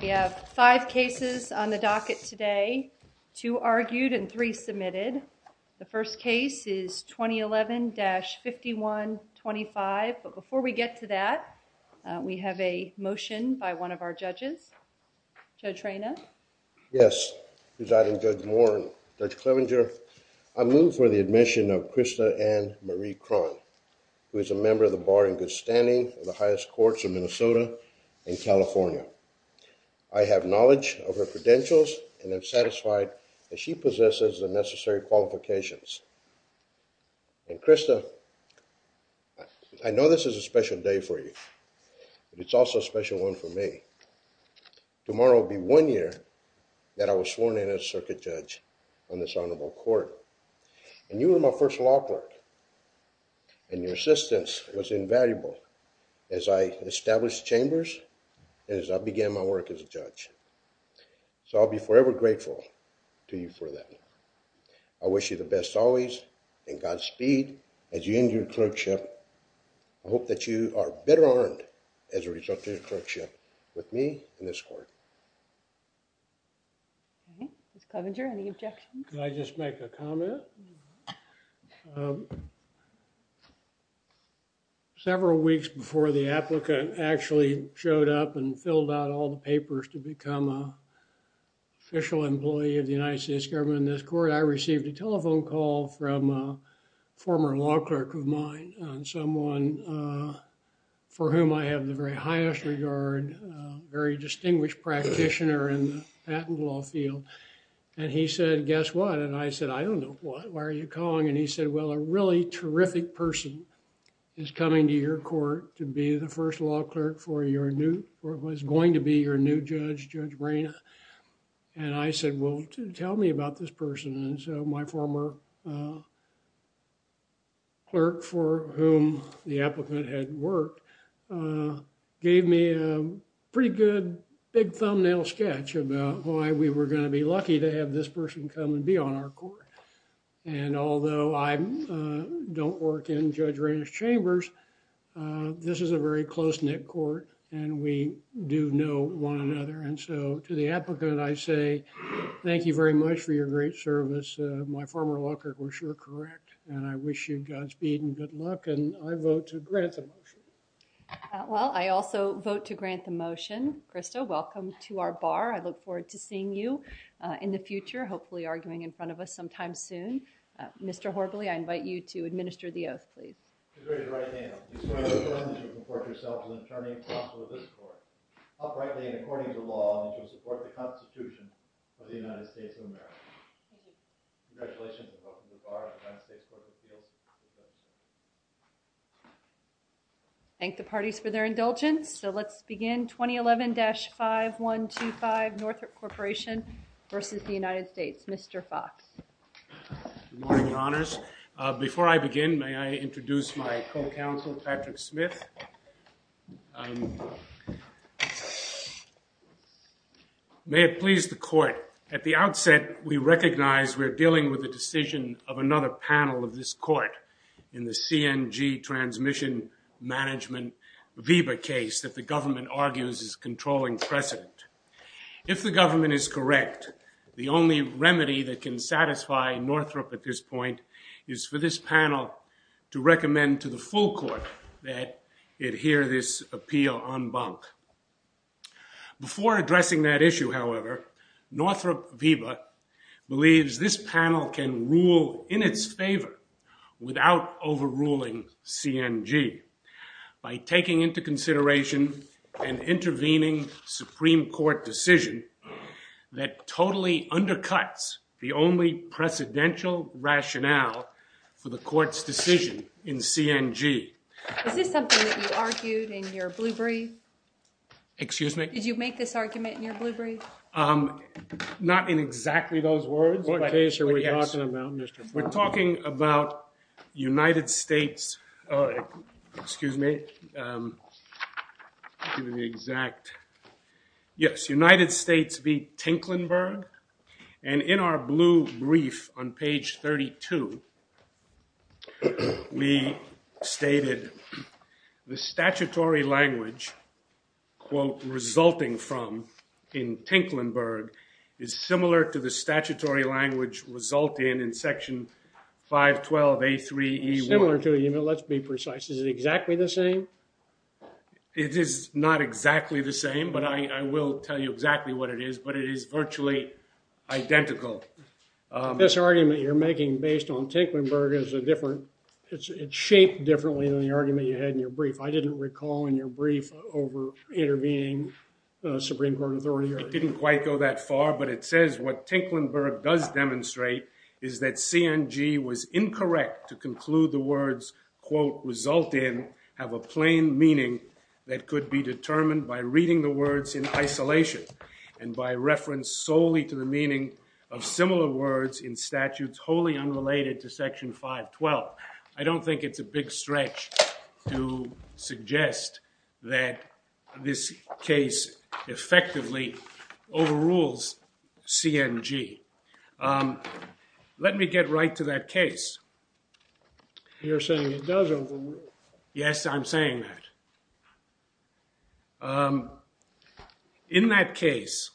We have five cases on the docket today, two argued and three submitted. The first case is 2011-5125, but before we get to that, we have a motion by one of our judges. Judge Reyna? Yes, Presiding Judge Moore and Judge Clevenger, I move for the admission of Krista Ann Marie Krohn, who is a member of the bar in good standing of the highest courts of Minnesota and California. I have knowledge of her credentials and am satisfied that she possesses the necessary qualifications. And Krista, I know this is a special day for you, but it's also a special one for me. Tomorrow will be one year that I was sworn in as circuit judge on this honorable court. And you were my first law clerk, and your assistance was invaluable as I established the chambers and as I began my work as a judge. So I'll be forever grateful to you for that. I wish you the best always, and Godspeed as you end your clerkship. I hope that you are better armed as a result of your clerkship with me in this court. Okay, Judge Clevenger, any objections? Can I just make a comment? Several weeks before the applicant actually showed up and filled out all the papers to become an official employee of the United States government in this court, I received a telephone call from a former law clerk of mine on someone for whom I have the very highest regard, a very distinguished practitioner in the patent law field. And he said, guess what? And I said, I don't know what. Why are you calling? And he said, well, a really terrific person is coming to your court to be the first law clerk for your new, or was going to be your new judge, Judge Brena. And I said, well, tell me about this person. And so my former clerk for whom the applicant had worked gave me a pretty good big thumbnail sketch about why we were going to be lucky to have this person come and be on our court. And although I don't work in Judge Rainer's chambers, this is a very close-knit court and we do know one another. And so to the applicant, I say, thank you very much for your great service. My former law clerk was sure correct. And I wish you Godspeed and good luck. And I vote to grant the motion. Well, I also vote to grant the motion. Christo, welcome to our bar. I look forward to seeing you in the future, hopefully arguing in front of us sometime soon. Mr. Horbally, I invite you to administer the oath, please. I read it right now. I swear on the front that you will comport yourself as an attorney and counsel of this court. Uprightly and according to the law that you will support the Constitution of the United States of America. Congratulations and welcome to the bar of the United States Court of Appeals, Judge Zinkelman. Thank the parties for their indulgence. So let's begin. 2011-5125 Northrop Corporation versus the United States. Mr. Fox. Good morning, your honors. Before I begin, may I introduce my co-counsel, Patrick Smith. May it please the court, at the outset we recognize we're dealing with a decision of another panel of this court in the CNG transmission management VEBA case that the government argues is controlling precedent. If the government is correct, the only remedy that can satisfy Northrop at this point is for this panel to recommend to the full court that it hear this appeal en banc. Before addressing that issue, however, Northrop VEBA believes this panel can rule in its favor without overruling CNG by taking into consideration and intervening Supreme Court decision that totally undercuts the only precedential rationale for the court's decision in CNG. Is this something that you argued in your blue brief? Excuse me? Did you make this argument in your blue brief? Not in exactly those words. What case are we talking about, Mr. Fox? We're talking about United States, excuse me, the exact, yes, United States v. Tinklenburg, and in our blue brief on page 32, we stated the statutory language, quote, resulting from in Tinklenburg is similar to the statutory language resulting in section 512A3E1. Similar to, let's be precise. Is it exactly the same? It is not exactly the same, but I will tell you exactly what it is, but it is virtually identical. This argument you're making based on Tinklenburg is a different, it's shaped differently than the argument you had in your brief. I didn't recall in your brief over intervening Supreme Court authority. It didn't quite go that far, but it says what Tinklenburg does demonstrate is that CNG was incorrect to conclude the words, quote, result in have a plain meaning that could be determined by reading the words in isolation and by reference solely to the meaning of similar words in statutes wholly unrelated to section 512. I don't think it's a big stretch to suggest that this case effectively overrules CNG. Let me get right to that case. You're saying it does overrule. Yes, I'm saying that. In that case,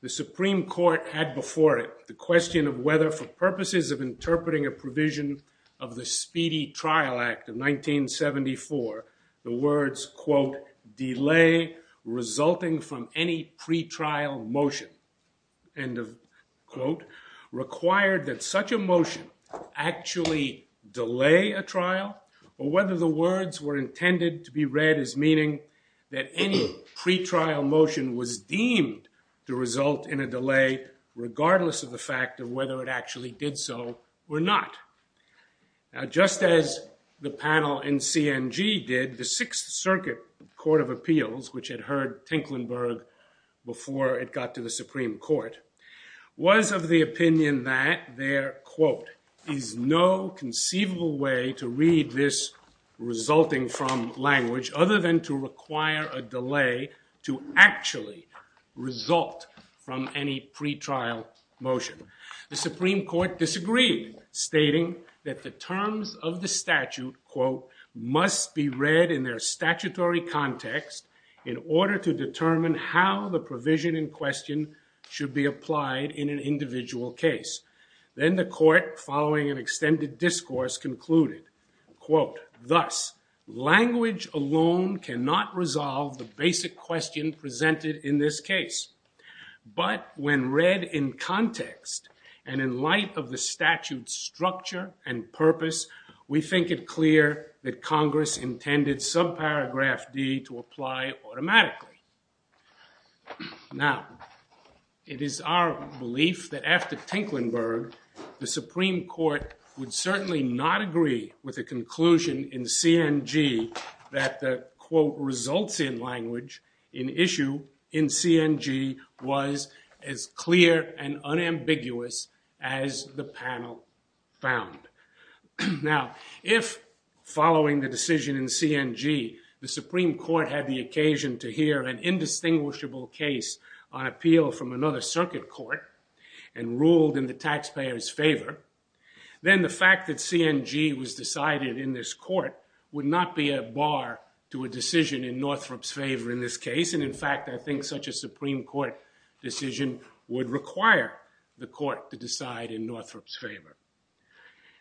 the Supreme Court had before it the question of whether for purposes of the Speedy Trial Act of 1974, the words, quote, delay resulting from any pretrial motion, end of quote, required that such a motion actually delay a trial or whether the words were intended to be read as meaning that any pretrial motion was deemed to result in a Now, just as the panel in CNG did, the Sixth Circuit Court of Appeals, which had heard Tinklenburg before it got to the Supreme Court, was of the opinion that their, quote, is no conceivable way to read this resulting from language other than to require a delay to actually result from any pretrial motion. The Supreme Court disagreed, stating that the terms of the statute, quote, must be read in their statutory context in order to determine how the provision in question should be applied in an individual case. Then the court, following an extended discourse, concluded, quote, thus, language alone cannot resolve the basic question presented in this case. But when read in context and in light of the statute's structure and purpose, we think it clear that Congress intended subparagraph D to apply automatically. Now, it is our belief that after Tinklenburg, the Supreme Court would certainly not agree with the conclusion in CNG that the, quote, results in language in issue in CNG was as clear and unambiguous as the panel found. Now, if following the decision in CNG, the Supreme Court had the occasion to hear an indistinguishable case on appeal from another circuit court and ruled in the taxpayer's favor, the decision decided in this court would not be a bar to a decision in Northrop's favor in this case. And, in fact, I think such a Supreme Court decision would require the court to decide in Northrop's favor.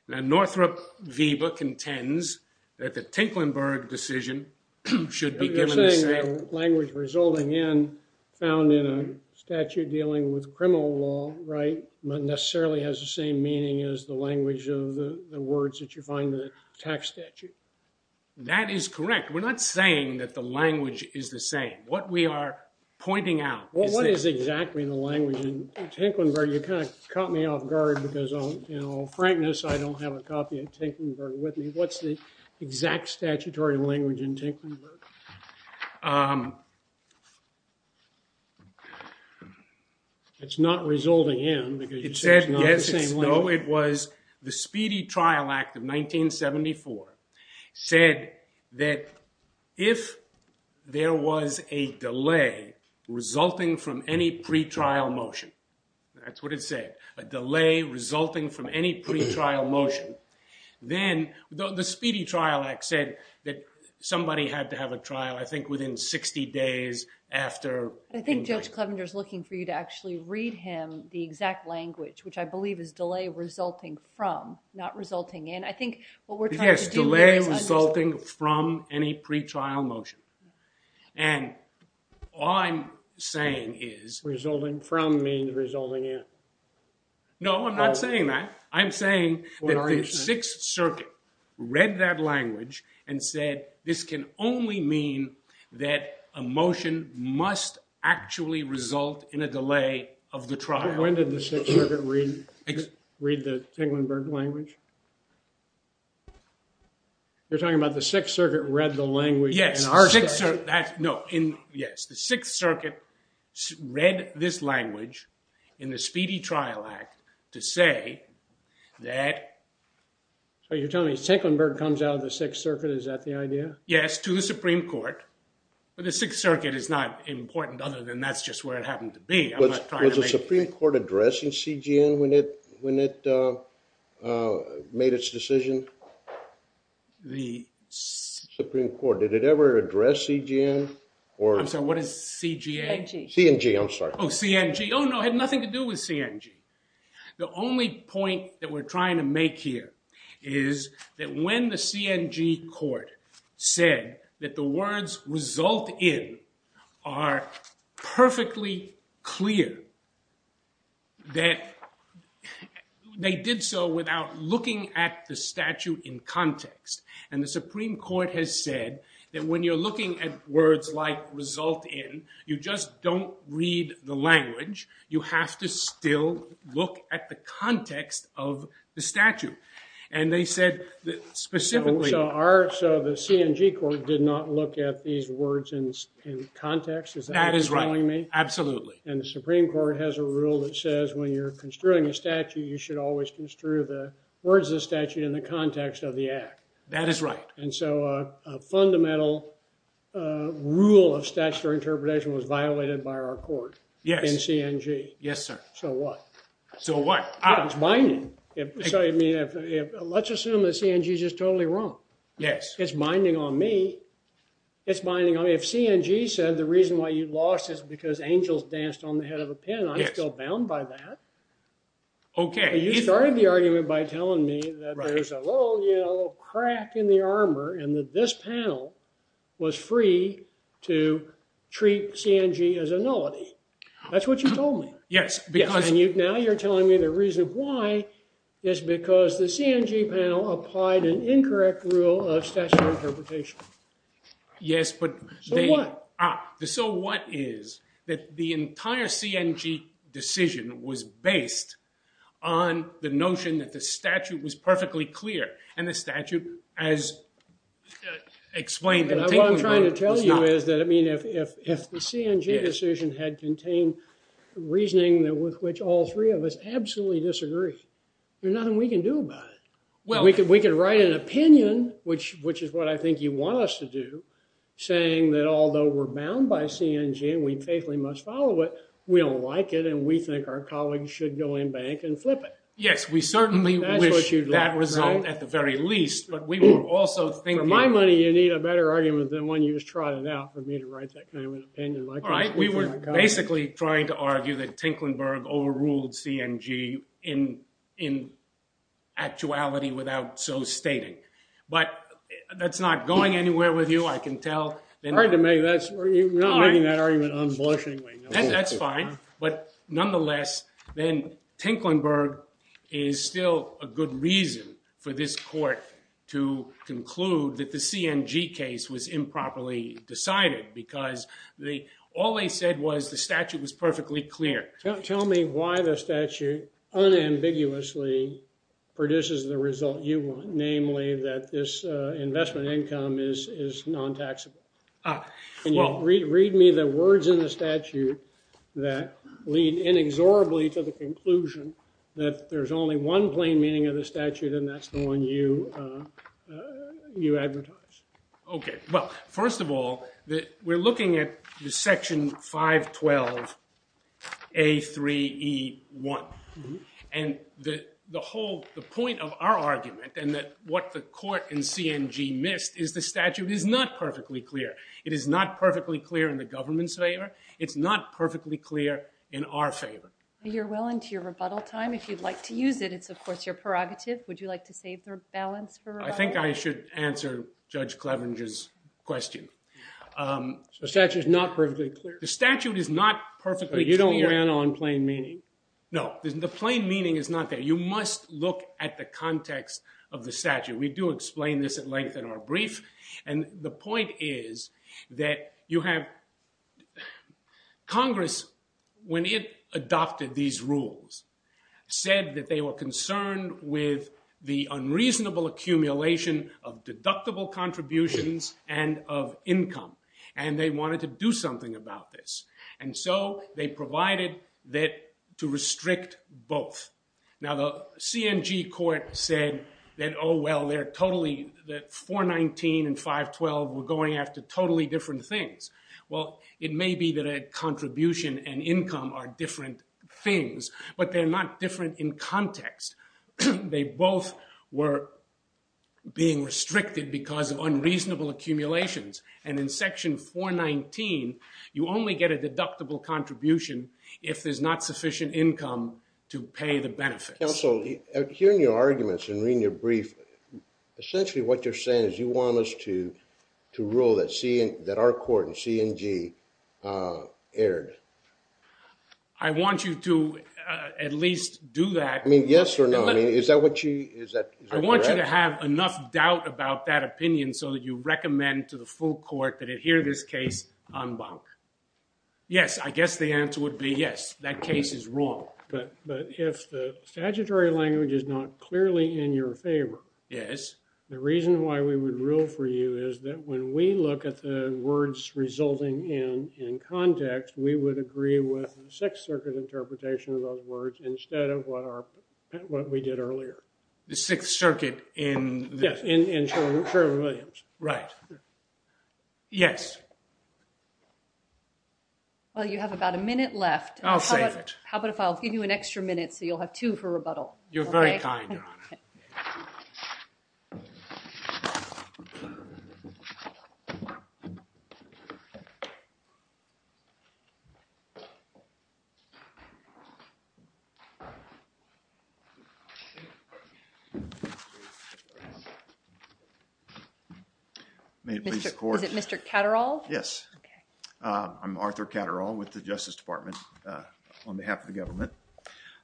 Now, Northrop Wiebe contends that the Tinklenburg decision should be given the same language resulting in, found in a statute dealing with criminal law, right, but necessarily has the same meaning as the language of the words that you find in the tax statute. That is correct. We're not saying that the language is the same. What we are pointing out is that- Well, what is exactly the language in Tinklenburg? You kind of caught me off guard because, you know, frankness, I don't have a copy of Tinklenburg with me. What's the exact statutory language in Tinklenburg? It's not resulting in because you said it's not the same language. No, it was the Speedy Trial Act of 1974 said that if there was a delay resulting from any pretrial motion, that's what it said, a delay resulting from any pretrial motion, then the Speedy Trial Act said that somebody had to have a trial, I think, within 60 days after - I think Judge Clevenger is looking for you to actually read him the exact language, which I believe is delay resulting from, not resulting in. I think what we're trying to do is understand- Yes, delay resulting from any pretrial motion, and all I'm saying is- Resulting from means resulting in. No, I'm not saying that. I'm saying that the Sixth Circuit read that language and said this can only mean that a motion must actually result in a delay of the trial. When did the Sixth Circuit read the Tinklenburg language? You're talking about the Sixth Circuit read the language in our state? Yes, the Sixth Circuit read this language in the Speedy Trial Act to say that- So you're telling me Tinklenburg comes out of the Sixth Circuit, is that the idea? Yes, to the Supreme Court, but the Sixth Circuit is not important other than that's just where it happened to be. I'm not trying to make- Was the Supreme Court addressing CGM when it made its decision? The Supreme Court, did it ever address CGM or- I'm sorry, what is CGA? CNG. CNG, I'm sorry. Oh, CNG. Oh no, it had nothing to do with CNG. The only point that we're trying to make here is that when the CNG court said that the words result in are perfectly clear, that they did so without looking at the statute in context. And the Supreme Court has said that when you're looking at words like result in, you just don't read the language. You have to still look at the context of the statute. And they said specifically- So the CNG court did not look at these words in context, is that what you're telling me? That is right. Absolutely. And the Supreme Court has a rule that says when you're construing a statute, you should always construe the words of the statute in the context of the act. That is right. And so a fundamental rule of statutory interpretation was violated by our court in CNG. Yes, sir. So what? So what? It's binding. Let's assume that CNG is just totally wrong. Yes. It's binding on me. It's binding on me. If CNG said the reason why you lost is because angels danced on the head of a pin, I'm still bound by that. Okay. But you started the argument by telling me that there's a little crack in the armor and that this panel was free to treat CNG as a nullity. That's what you told me. Yes. Because- So what? So what is that the entire CNG decision was based on the notion that the statute was perfectly clear and the statute as explained- And what I'm trying to tell you is that if the CNG decision had contained reasoning with which all three of us absolutely disagree, there's nothing we can do about it. Well- We could write an opinion, which is what I think you want us to do, saying that although we're bound by CNG and we faithfully must follow it, we don't like it and we think our colleagues should go in bank and flip it. Yes. We certainly wish that result at the very least, but we will also think- For my money, you need a better argument than one you just trotted out for me to write that kind of an opinion. All right. We were basically trying to argue that Tinklenberg overruled CNG in actuality without so stating. But that's not going anywhere with you, I can tell. You're not making that argument unblushingly. That's fine. But nonetheless, then Tinklenberg is still a good reason for this court to conclude that the CNG case was improperly decided because all they said was the statute was perfectly clear. Tell me why the statute unambiguously produces the result you want, namely that this investment income is non-taxable. Read me the words in the statute that lead inexorably to the conclusion that there's only one plain meaning of the statute, and that's the one you advertise. Okay. Well, first of all, we're looking at the section 512A3E1. And the point of our argument and what the court in CNG missed is the statute is not perfectly clear. It is not perfectly clear in the government's favor. It's not perfectly clear in our favor. You're well into your rebuttal time. If you'd like to use it, it's, of course, your prerogative. Would you like to save the rebalance for rebuttal? I think I should answer Judge Clevenger's question. The statute is not perfectly clear. The statute is not perfectly clear. You don't ran on plain meaning. No. The plain meaning is not there. We do explain this at length in our brief. And the point is that Congress, when it adopted these rules, said that they were concerned with the unreasonable accumulation of deductible contributions and of income. And they wanted to do something about this. And so they provided that to restrict both. Now, the CNG court said that, oh, well, 419 and 512 were going after totally different things. Well, it may be that a contribution and income are different things, but they're not different in context. They both were being restricted because of unreasonable accumulations. And in Section 419, you only get a deductible contribution if there's not sufficient income to pay the benefits. Counsel, hearing your arguments and reading your brief, essentially what you're saying is you want us to rule that our court in CNG erred. I want you to at least do that. I mean, yes or no? I mean, is that what you? Is that correct? I want you to have enough doubt about that opinion so that you recommend to the full court that it hear this case en banc. Yes. I guess the answer would be yes. That case is wrong. But if the statutory language is not clearly in your favor, the reason why we would rule for you is that when we look at the words resulting in context, we would agree with the Sixth Circuit interpretation of those words instead of what we did earlier. The Sixth Circuit in this? Yes, in Sherwood Williams. Right. Yes. Well, you have about a minute left. I'll save it. How about if I'll give you an extra minute so you'll have two for rebuttal? You're very kind, Your Honor. May it please the Court? Is it Mr. Catterall? Yes. I'm Arthur Catterall with the Justice Department on behalf of the government.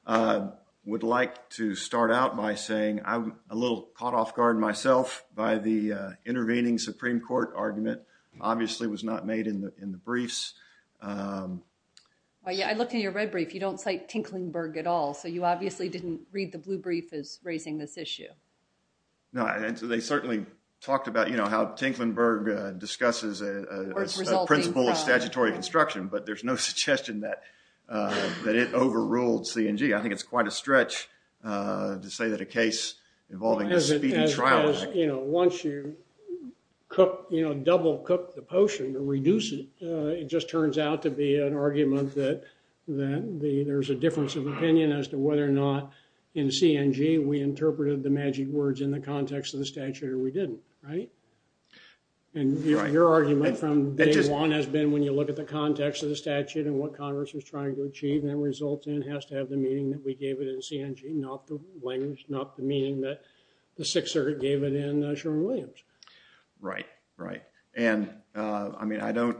I would like to start out by saying I'm a little caught off guard myself by the intervening Supreme Court argument. Obviously, it was not made in the briefs. I looked at your red brief. You don't cite Tinklenburg at all, so you obviously didn't read the blue brief as raising this issue. No. And so they certainly talked about, you know, how Tinklenburg discusses a principle of statutory construction, but there's no suggestion that it overruled CNG. I think it's quite a stretch to say that a case involving a speedy trial— As, you know, once you cook, you know, double cook the potion to reduce it, it just turns out to be an argument that there's a difference of opinion as to whether or not in CNG we interpreted the magic words in the context of the statute or we didn't, right? And your argument from day one has been when you look at the context of the statute and what Congress was trying to achieve, and that result has to have the meaning that we gave it in CNG, not the language, not the meaning that the Sixth Circuit gave it in Sherman-Williams. Right. Right. And, I mean, I don't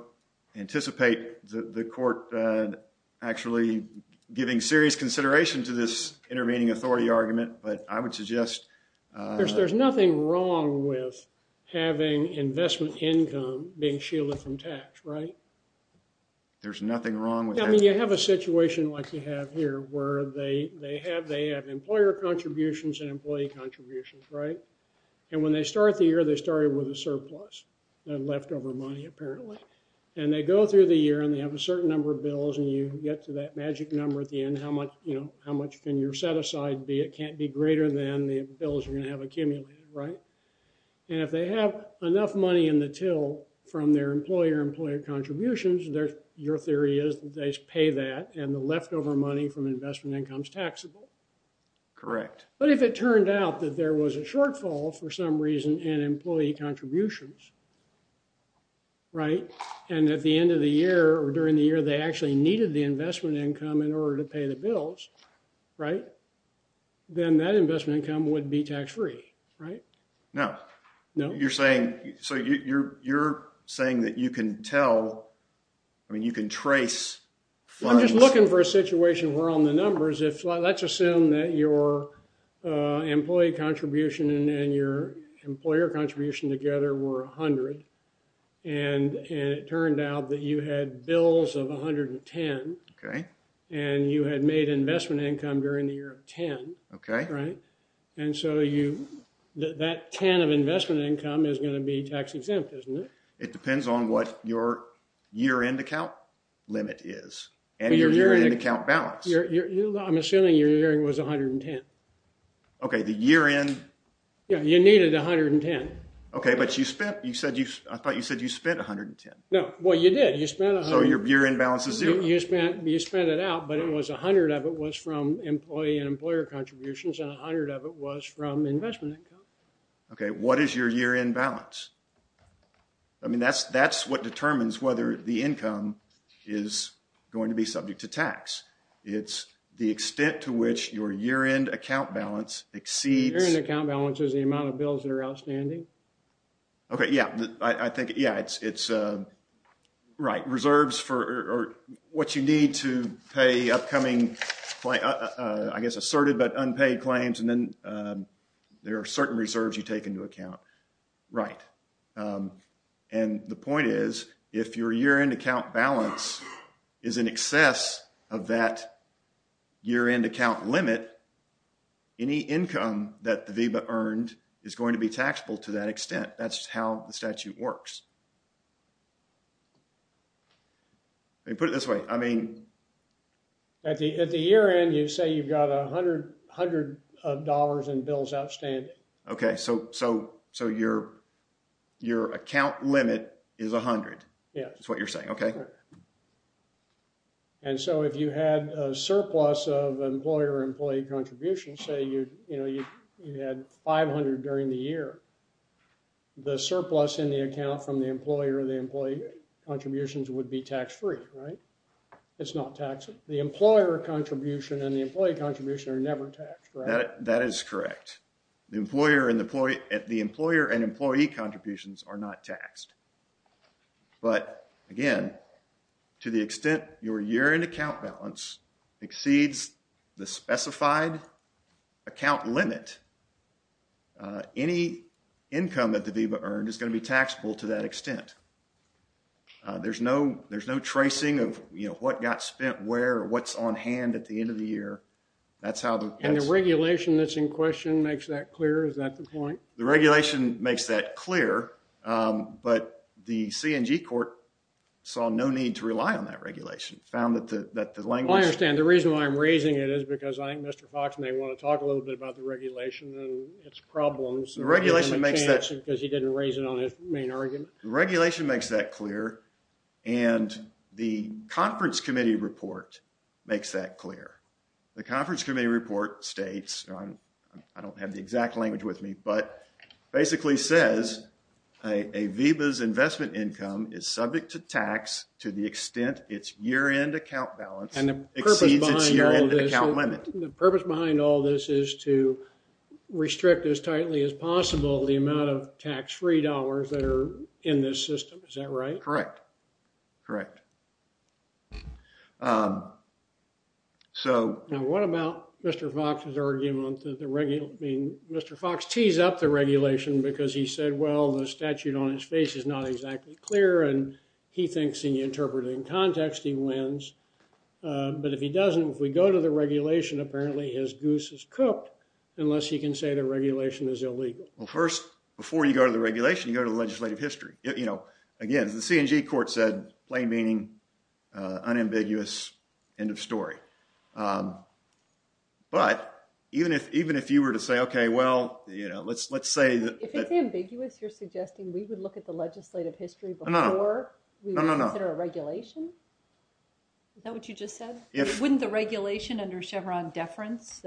anticipate the court actually giving serious consideration to this I would suggest— There's nothing wrong with having investment income being shielded from tax, right? There's nothing wrong with— I mean, you have a situation like you have here where they have employer contributions and employee contributions, right? And when they start the year, they start it with a surplus, a leftover money apparently. And they go through the year and they have a certain number of bills and you get to that magic number at the end, how much, you know, how much can your set-aside be? It can't be greater than the bills you're going to have accumulated, right? And if they have enough money in the till from their employer-employer contributions, your theory is that they pay that and the leftover money from investment income is taxable. Correct. But if it turned out that there was a shortfall for some reason in employee contributions, right, and at the end of the year or during the year they actually needed the investment income in order to pay the bills, right, then that investment income would be tax-free, right? No. No? You're saying—so you're saying that you can tell—I mean, you can trace funds— I'm just looking for a situation where on the numbers, if—let's assume that your employee contribution and your employer contribution together were 100 and it turned out that you had bills of 110 and you had made investment income during the year of 10, right, and so you—that 10 of investment income is going to be tax-exempt, isn't it? It depends on what your year-end account limit is and your year-end account balance. I'm assuming your year-end was 110. Okay, the year-end— Yeah, you needed 110. Okay, but you spent—I thought you said you spent 110. No. Well, you did. You spent— So your year-end balance is zero. You spent it out, but it was 100 of it was from employee and employer contributions and 100 of it was from investment income. Okay, what is your year-end balance? I mean, that's what determines whether the income is going to be subject to tax. It's the extent to which your year-end account balance exceeds— Year-end account balance is the amount of bills that are outstanding. Okay, yeah. I think, yeah, it's—right. Reserves for what you need to pay upcoming, I guess, asserted but unpaid claims and then there are certain reserves you take into account. Right. And the point is, if your year-end account balance is in excess of that year-end account limit, any income that the VEBA earned is going to be taxable to that extent. That's how the statute works. Let me put it this way. I mean— At the year-end, you say you've got 100 of dollars in bills outstanding. Okay, so your account limit is 100. Yeah. That's what you're saying. Okay. And so, if you had a surplus of employer-employee contributions, say you had 500 during the year, the surplus in the account from the employer and the employee contributions would be tax-free, right? It's not taxable. The employer contribution and the employee contribution are never taxed, right? That is correct. The employer and employee contributions are not taxed. But, again, to the extent your year-end account balance exceeds the specified account limit, any income that the VEBA earned is going to be taxable to that extent. There's no tracing of, you know, what got spent where or what's on hand at the end of the year. That's how the— And the regulation that's in question makes that clear. Is that the point? The regulation makes that clear, but the CNG court saw no need to rely on that regulation. It found that the language— I understand. The reason why I'm raising it is because I think Mr. Fox may want to talk a little bit about the regulation and its problems. The regulation makes that— Because he didn't raise it on his main argument. The regulation makes that clear, and the conference committee report makes that clear. The conference committee report states—I don't have the exact language with me, but basically says a VEBA's investment income is subject to tax to the extent its year-end account balance exceeds its year-end account limit. The purpose behind all this is to restrict as tightly as possible the amount of tax-free dollars that are in this system. Is that right? Correct. Correct. So— Now, what about Mr. Fox's argument that the—I mean, Mr. Fox tees up the regulation because he said, well, the statute on his face is not exactly clear, and he thinks in the interpreting context he wins. But if he doesn't, if we go to the regulation, apparently his goose is cooked unless he can say the regulation is illegal. Well, first, before you go to the regulation, you go to the legislative history. Again, as the C&G court said, plain meaning, unambiguous, end of story. But even if you were to say, okay, well, let's say— If it's ambiguous, you're suggesting we would look at the legislative history before we consider a regulation? Is that what you just said? Wouldn't the regulation under Chevron deference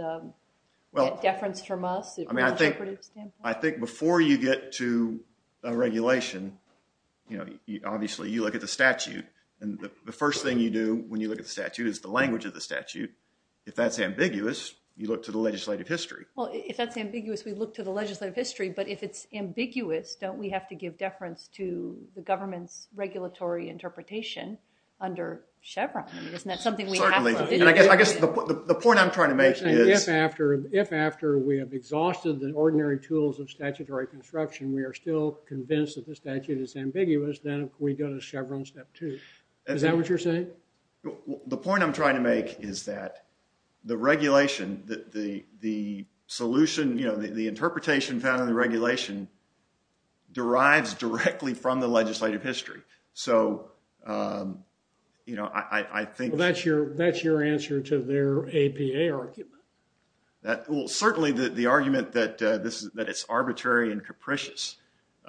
get deference from us from an interpretive standpoint? I think before you get to a regulation, you know, obviously you look at the statute. And the first thing you do when you look at the statute is the language of the statute. If that's ambiguous, you look to the legislative history. Well, if that's ambiguous, we look to the legislative history. But if it's ambiguous, don't we have to give deference to the government's regulatory interpretation under Chevron? Isn't that something we have to— Certainly. I guess the point I'm trying to make is— we are still convinced that the statute is ambiguous, then we go to Chevron step two. Is that what you're saying? The point I'm trying to make is that the regulation, the solution, you know, the interpretation found in the regulation derives directly from the legislative history. So, you know, I think— Well, that's your answer to their APA argument. Well, certainly the argument that it's arbitrary and capricious.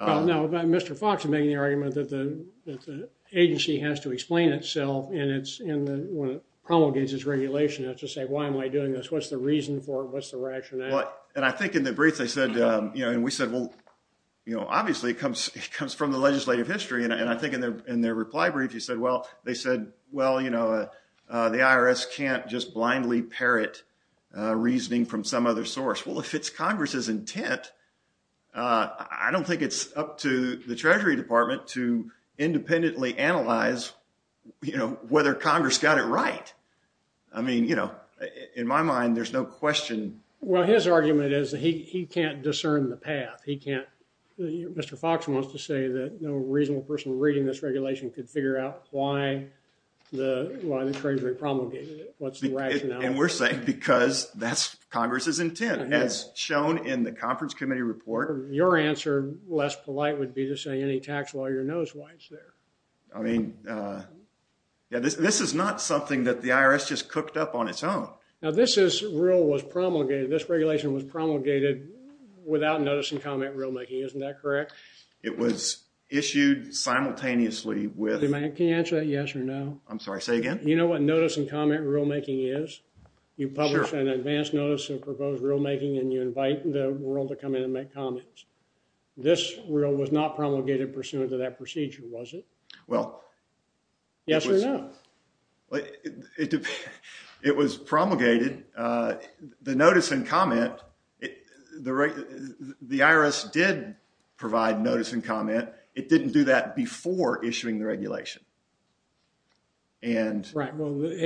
No, but Mr. Fox is making the argument that the agency has to explain itself when it promulgates its regulation. It has to say, why am I doing this? What's the reason for it? What's the rationale? And I think in the brief they said, you know, and we said, well, you know, obviously it comes from the legislative history. And I think in their reply brief you said, well, they said, well, you know, the IRS can't just blindly parrot reasoning from some other source. Well, if it's Congress's intent, I don't think it's up to the Treasury Department to independently analyze, you know, whether Congress got it right. I mean, you know, in my mind, there's no question. Well, his argument is that he can't discern the path. He can't—Mr. Fox wants to say that no reasonable person reading this regulation could figure out why the Treasury promulgated it. What's the rationale? And we're saying because that's Congress's intent, as shown in the conference committee report. Your answer, less polite, would be to say any tax lawyer knows why it's there. I mean, yeah, this is not something that the IRS just cooked up on its own. Now, this is—rule was promulgated. This regulation was promulgated without notice and comment rulemaking. Isn't that correct? It was issued simultaneously with— Can you answer that yes or no? I'm sorry, say again? You know what notice and comment rulemaking is? You publish an advance notice of proposed rulemaking and you invite the world to come in and make comments. This rule was not promulgated pursuant to that procedure, was it? Well— Yes or no? It was promulgated. The notice and comment—the IRS did provide notice and comment. It didn't do that before issuing the regulation. Right, well, the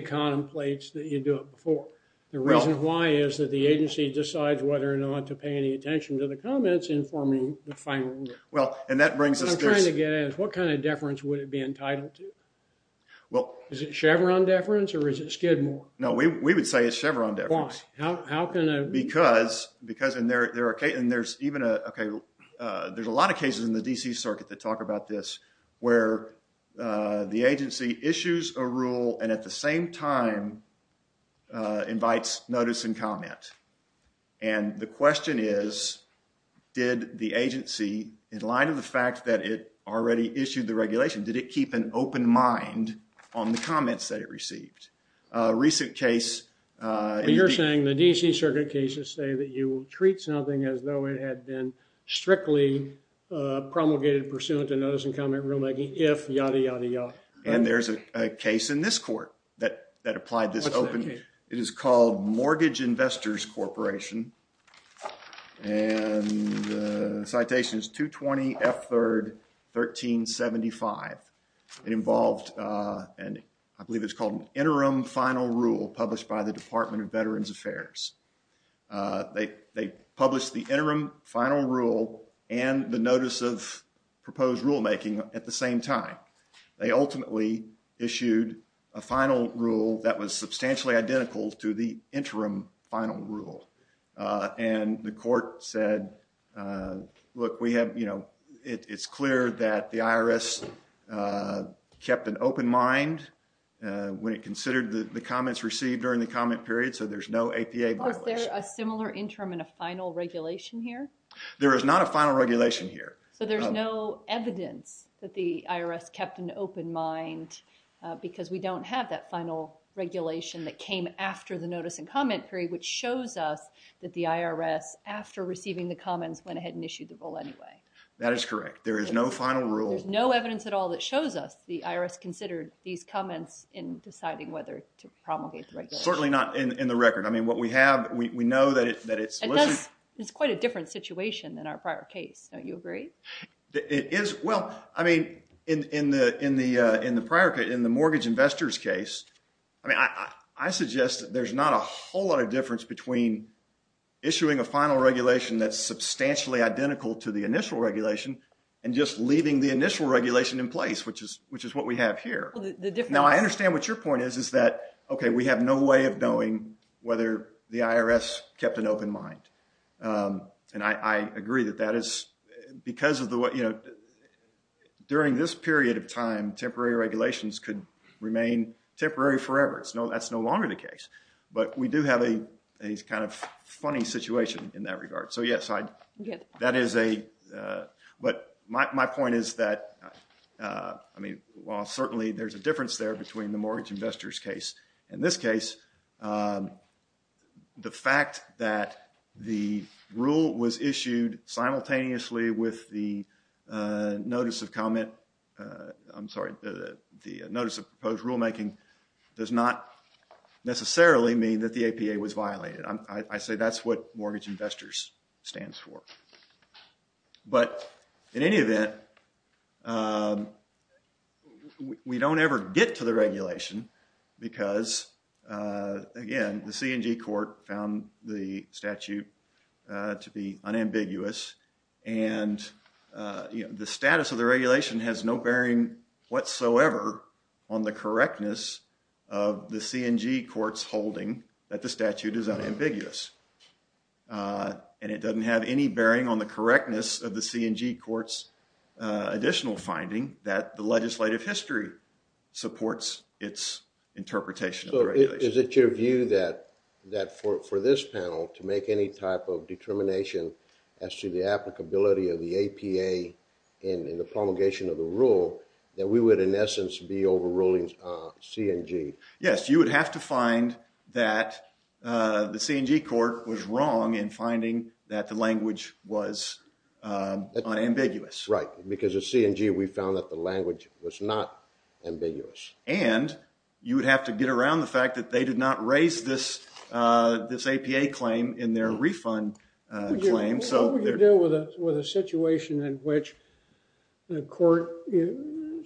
APA contemplates that you do it before. The reason why is that the agency decides whether or not to pay any attention to the comments informing the final rule. Well, and that brings us to— What I'm trying to get at is what kind of deference would it be entitled to? Is it Chevron deference or is it Skidmore? No, we would say it's Chevron deference. Why? How can a— Because—and there's even a— Okay, there's a lot of cases in the D.C. Circuit that talk about this where the agency issues a rule and at the same time invites notice and comment. And the question is did the agency, in light of the fact that it already issued the regulation, did it keep an open mind on the comments that it received? A recent case— You're saying the D.C. Circuit cases say that you treat something as though it had been strictly promulgated pursuant to notice and comment rulemaking if yada, yada, yada. And there's a case in this court that applied this open— What's that case? It is called Mortgage Investors Corporation. And the citation is 220 F. 3rd, 1375. It involved—and I believe it's called an interim final rule published by the Department of Veterans Affairs. They published the interim final rule and the notice of proposed rulemaking at the same time. They ultimately issued a final rule that was substantially identical to the interim final rule. And the court said, look, we have, you know, it's clear that the IRS kept an open mind when it considered the comments received during the comment period so there's no APA violation. Was there a similar interim and a final regulation here? There is not a final regulation here. So there's no evidence that the IRS kept an open mind because we don't have that final regulation that came after the notice and comment period which shows us that the IRS, after receiving the comments, went ahead and issued the rule anyway. That is correct. There is no final rule. There's no evidence at all that shows us the IRS considered these comments in deciding whether to promulgate the regulation. Certainly not in the record. I mean, what we have, we know that it's— It's quite a different situation than our prior case. Don't you agree? It is. Well, I mean, in the prior case, in the mortgage investors case, I mean, I suggest that there's not a whole lot of difference between issuing a final regulation that's substantially identical to the initial regulation and just leaving the initial regulation in place which is what we have here. Now, I understand what your point is, is that, okay, we have no way of knowing whether the IRS kept an open mind. And I agree that that is because of the, you know, during this period of time, temporary regulations could remain temporary forever. That's no longer the case. But we do have a kind of funny situation in that regard. So, yes, that is a— But my point is that, I mean, while certainly there's a difference there between the mortgage investors case and this case, the fact that the rule was issued simultaneously with the notice of comment— I'm sorry, the notice of proposed rulemaking does not necessarily mean that the APA was violated. I say that's what mortgage investors stands for. But in any event, we don't ever get to the regulation because, again, the C&G court found the statute to be unambiguous. And the status of the regulation has no bearing whatsoever on the correctness of the C&G court's holding that the statute is unambiguous. And it doesn't have any bearing on the correctness of the C&G court's additional finding that the legislative history supports its interpretation of the regulation. So is it your view that for this panel to make any type of determination as to the applicability of the APA in the promulgation of the rule, that we would, in essence, be overruling C&G? Yes, you would have to find that the C&G court was wrong in finding that the language was unambiguous. Right, because at C&G we found that the language was not ambiguous. And you would have to get around the fact that they did not raise this APA claim in their refund claim. What would you do with a situation in which the court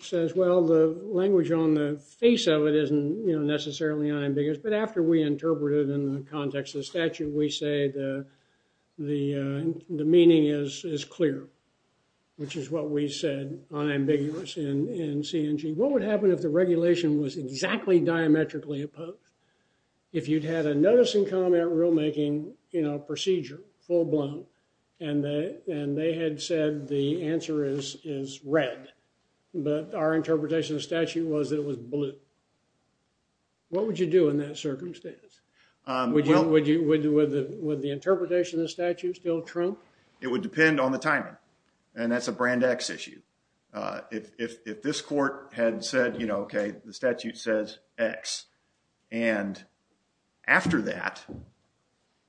says, well, the language on the face of it isn't necessarily unambiguous, but after we interpret it in the context of the statute, we say the meaning is clear, which is what we said, unambiguous in C&G. What would happen if the regulation was exactly diametrically opposed? If you'd had a notice and comment rulemaking procedure full blown and they had said the answer is red, but our interpretation of the statute was that it was blue, what would you do in that circumstance? Would the interpretation of the statute still trump? It would depend on the timing, and that's a brand X issue. If this court had said, you know, okay, the statute says X, and after that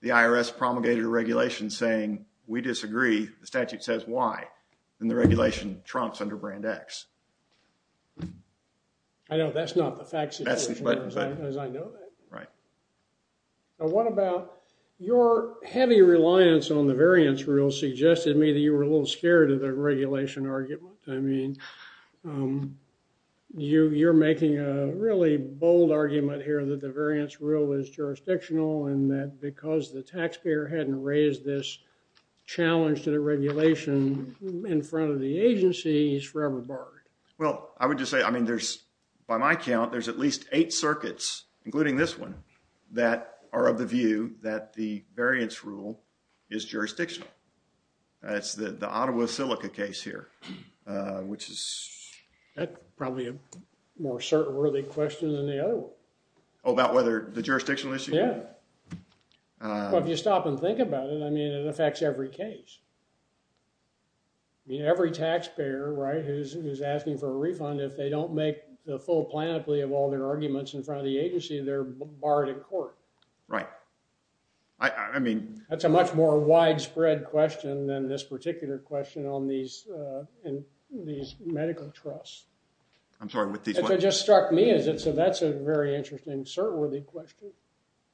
the IRS promulgated a regulation saying we disagree, the statute says Y, then the regulation trumps under brand X. I know that's not the facts as I know that. Right. Now what about your heavy reliance on the variance rule suggested to me that you were a little scared of the regulation argument. I mean, you're making a really bold argument here that the variance rule is jurisdictional and that because the taxpayer hadn't raised this challenge to the regulation in front of the agency, it's forever barred. Well, I would just say, I mean, there's, by my count, there's at least eight circuits, including this one, that are of the view that the variance rule is jurisdictional. That's the Ottawa Silica case here, which is... That's probably a more certain worthy question than the other one. Oh, about whether the jurisdictional issue? Yeah. Well, if you stop and think about it, I mean, it affects every case. I mean, every taxpayer, right, who's asking for a refund, if they don't make the full plan of all their arguments in front of the agency, they're barred in court. Right. I mean... That's a much more widespread question than this particular question on these medical trusts. I'm sorry, with these... It just struck me as if that's a very interesting certain worthy question.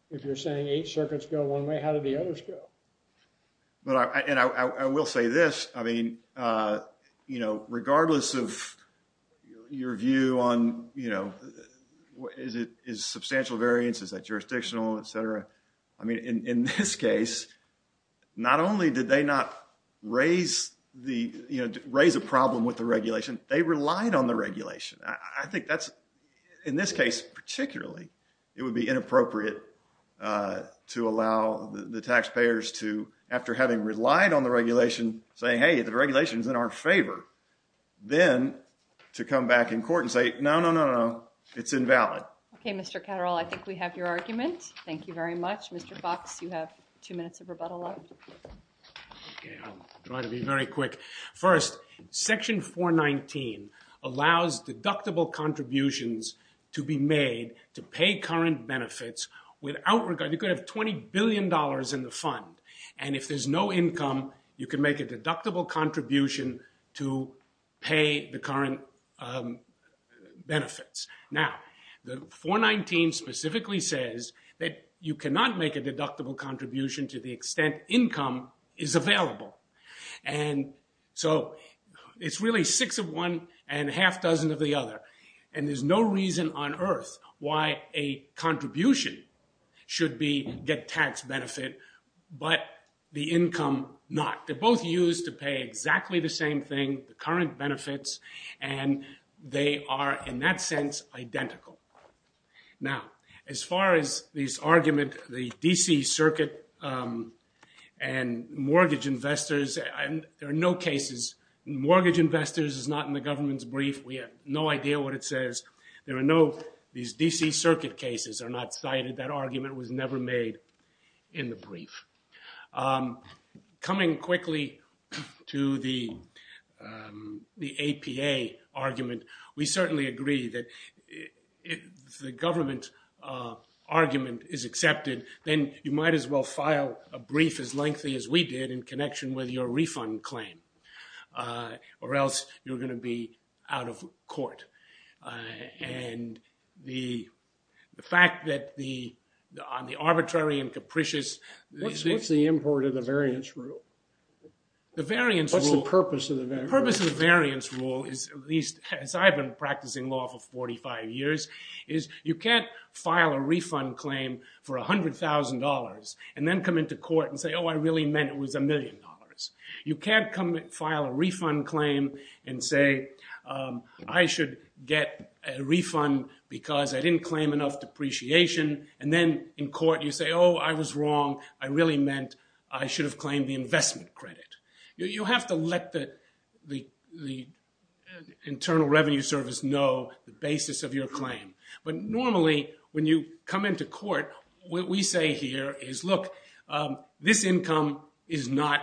If you're saying eight circuits go one way, how do the others go? And I will say this. I mean, you know, regardless of your view on, you know, is substantial variance, is that jurisdictional, et cetera, I mean, in this case, not only did they not raise the, you know, raise a problem with the regulation, they relied on the regulation. I think that's, in this case particularly, it would be inappropriate to allow the taxpayers to, after having relied on the regulation, say, hey, the regulation's in our favor. Then to come back in court and say, no, no, no, no, it's invalid. Okay, Mr. Catterall, I think we have your argument. Thank you very much. Mr. Fox, you have two minutes of rebuttal left. Okay, I'll try to be very quick. First, Section 419 allows deductible contributions to be made to pay current benefits without regard... You could have $20 billion in the fund, and if there's no income, you can make a deductible contribution to pay the current benefits. Now, the 419 specifically says that you cannot make a deductible contribution to the extent income is available. And so it's really six of one and a half dozen of the other. And there's no reason on earth why a contribution should be get tax benefit, but the income not. They're both used to pay exactly the same thing, the current benefits, and they are, in that sense, identical. Now, as far as this argument, the D.C. Circuit and mortgage investors, there are no cases. Mortgage investors is not in the government's brief. We have no idea what it says. These D.C. Circuit cases are not cited. That argument was never made in the brief. Coming quickly to the APA argument, we certainly agree that if the government argument is accepted, then you might as well file a brief as lengthy as we did in connection with your refund claim, or else you're going to be out of court. And the fact that the arbitrary and capricious – What's the import of the variance rule? The variance rule – What's the purpose of the variance rule? The purpose of the variance rule is, at least as I've been practicing law for 45 years, is you can't file a refund claim for $100,000 and then come into court and say, oh, I really meant it was a million dollars. You can't file a refund claim and say, I should get a refund because I didn't claim enough depreciation, and then in court you say, oh, I was wrong. I really meant I should have claimed the investment credit. You have to let the Internal Revenue Service know the basis of your claim. But normally, when you come into court, what we say here is, look, this income is not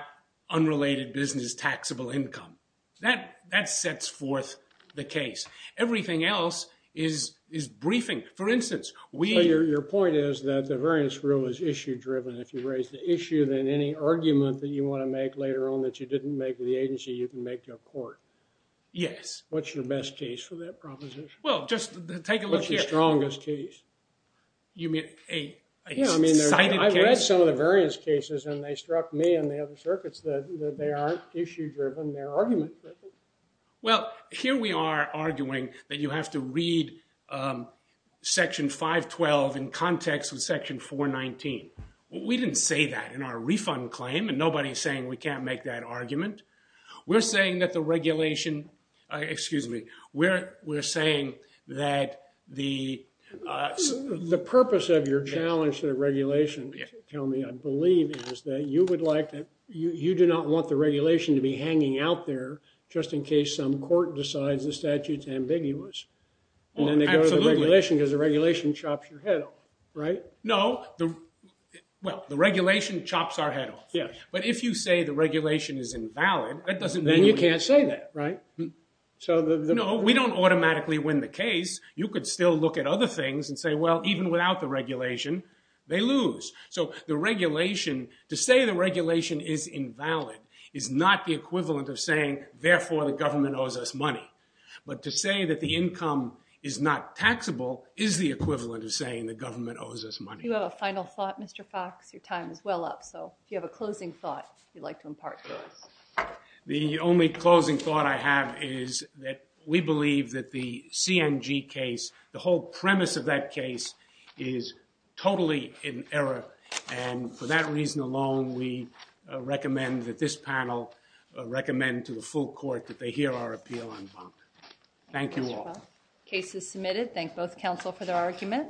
unrelated business taxable income. That sets forth the case. Everything else is briefing. For instance, we – Your point is that the variance rule is issue-driven. If you raise the issue, then any argument that you want to make later on that you didn't make with the agency, you can make to a court. Yes. What's your best case for that proposition? What's your strongest case? You mean a cited case? I've read some of the variance cases, and they struck me in the other circuits that they aren't issue-driven. They're argument-driven. Well, here we are arguing that you have to read Section 512 in context of Section 419. We didn't say that in our refund claim, and nobody is saying we can't make that argument. We're saying that the regulation – excuse me. We're saying that the – The purpose of your challenge to the regulation, tell me, I believe, is that you would like – you do not want the regulation to be hanging out there just in case some court decides the statute is ambiguous. Absolutely. And then they go to the regulation because the regulation chops your head off. Right? No. Well, the regulation chops our head off. Yes. But if you say the regulation is invalid, that doesn't mean – Then you can't say that. Right? No. We don't automatically win the case. You could still look at other things and say, well, even without the regulation, they lose. So the regulation – to say the regulation is invalid is not the equivalent of saying, therefore, the government owes us money. But to say that the income is not taxable is the equivalent of saying the government owes us money. Do you have a final thought, Mr. Fox? Your time is well up. So if you have a closing thought you'd like to impart to us. The only closing thought I have is that we believe that the CNG case, the whole premise of that case, is totally in error. And for that reason alone, we recommend that this panel recommend to the full court that they hear our appeal on bond. Thank you all. Case is submitted. Thank both counsel for their argument.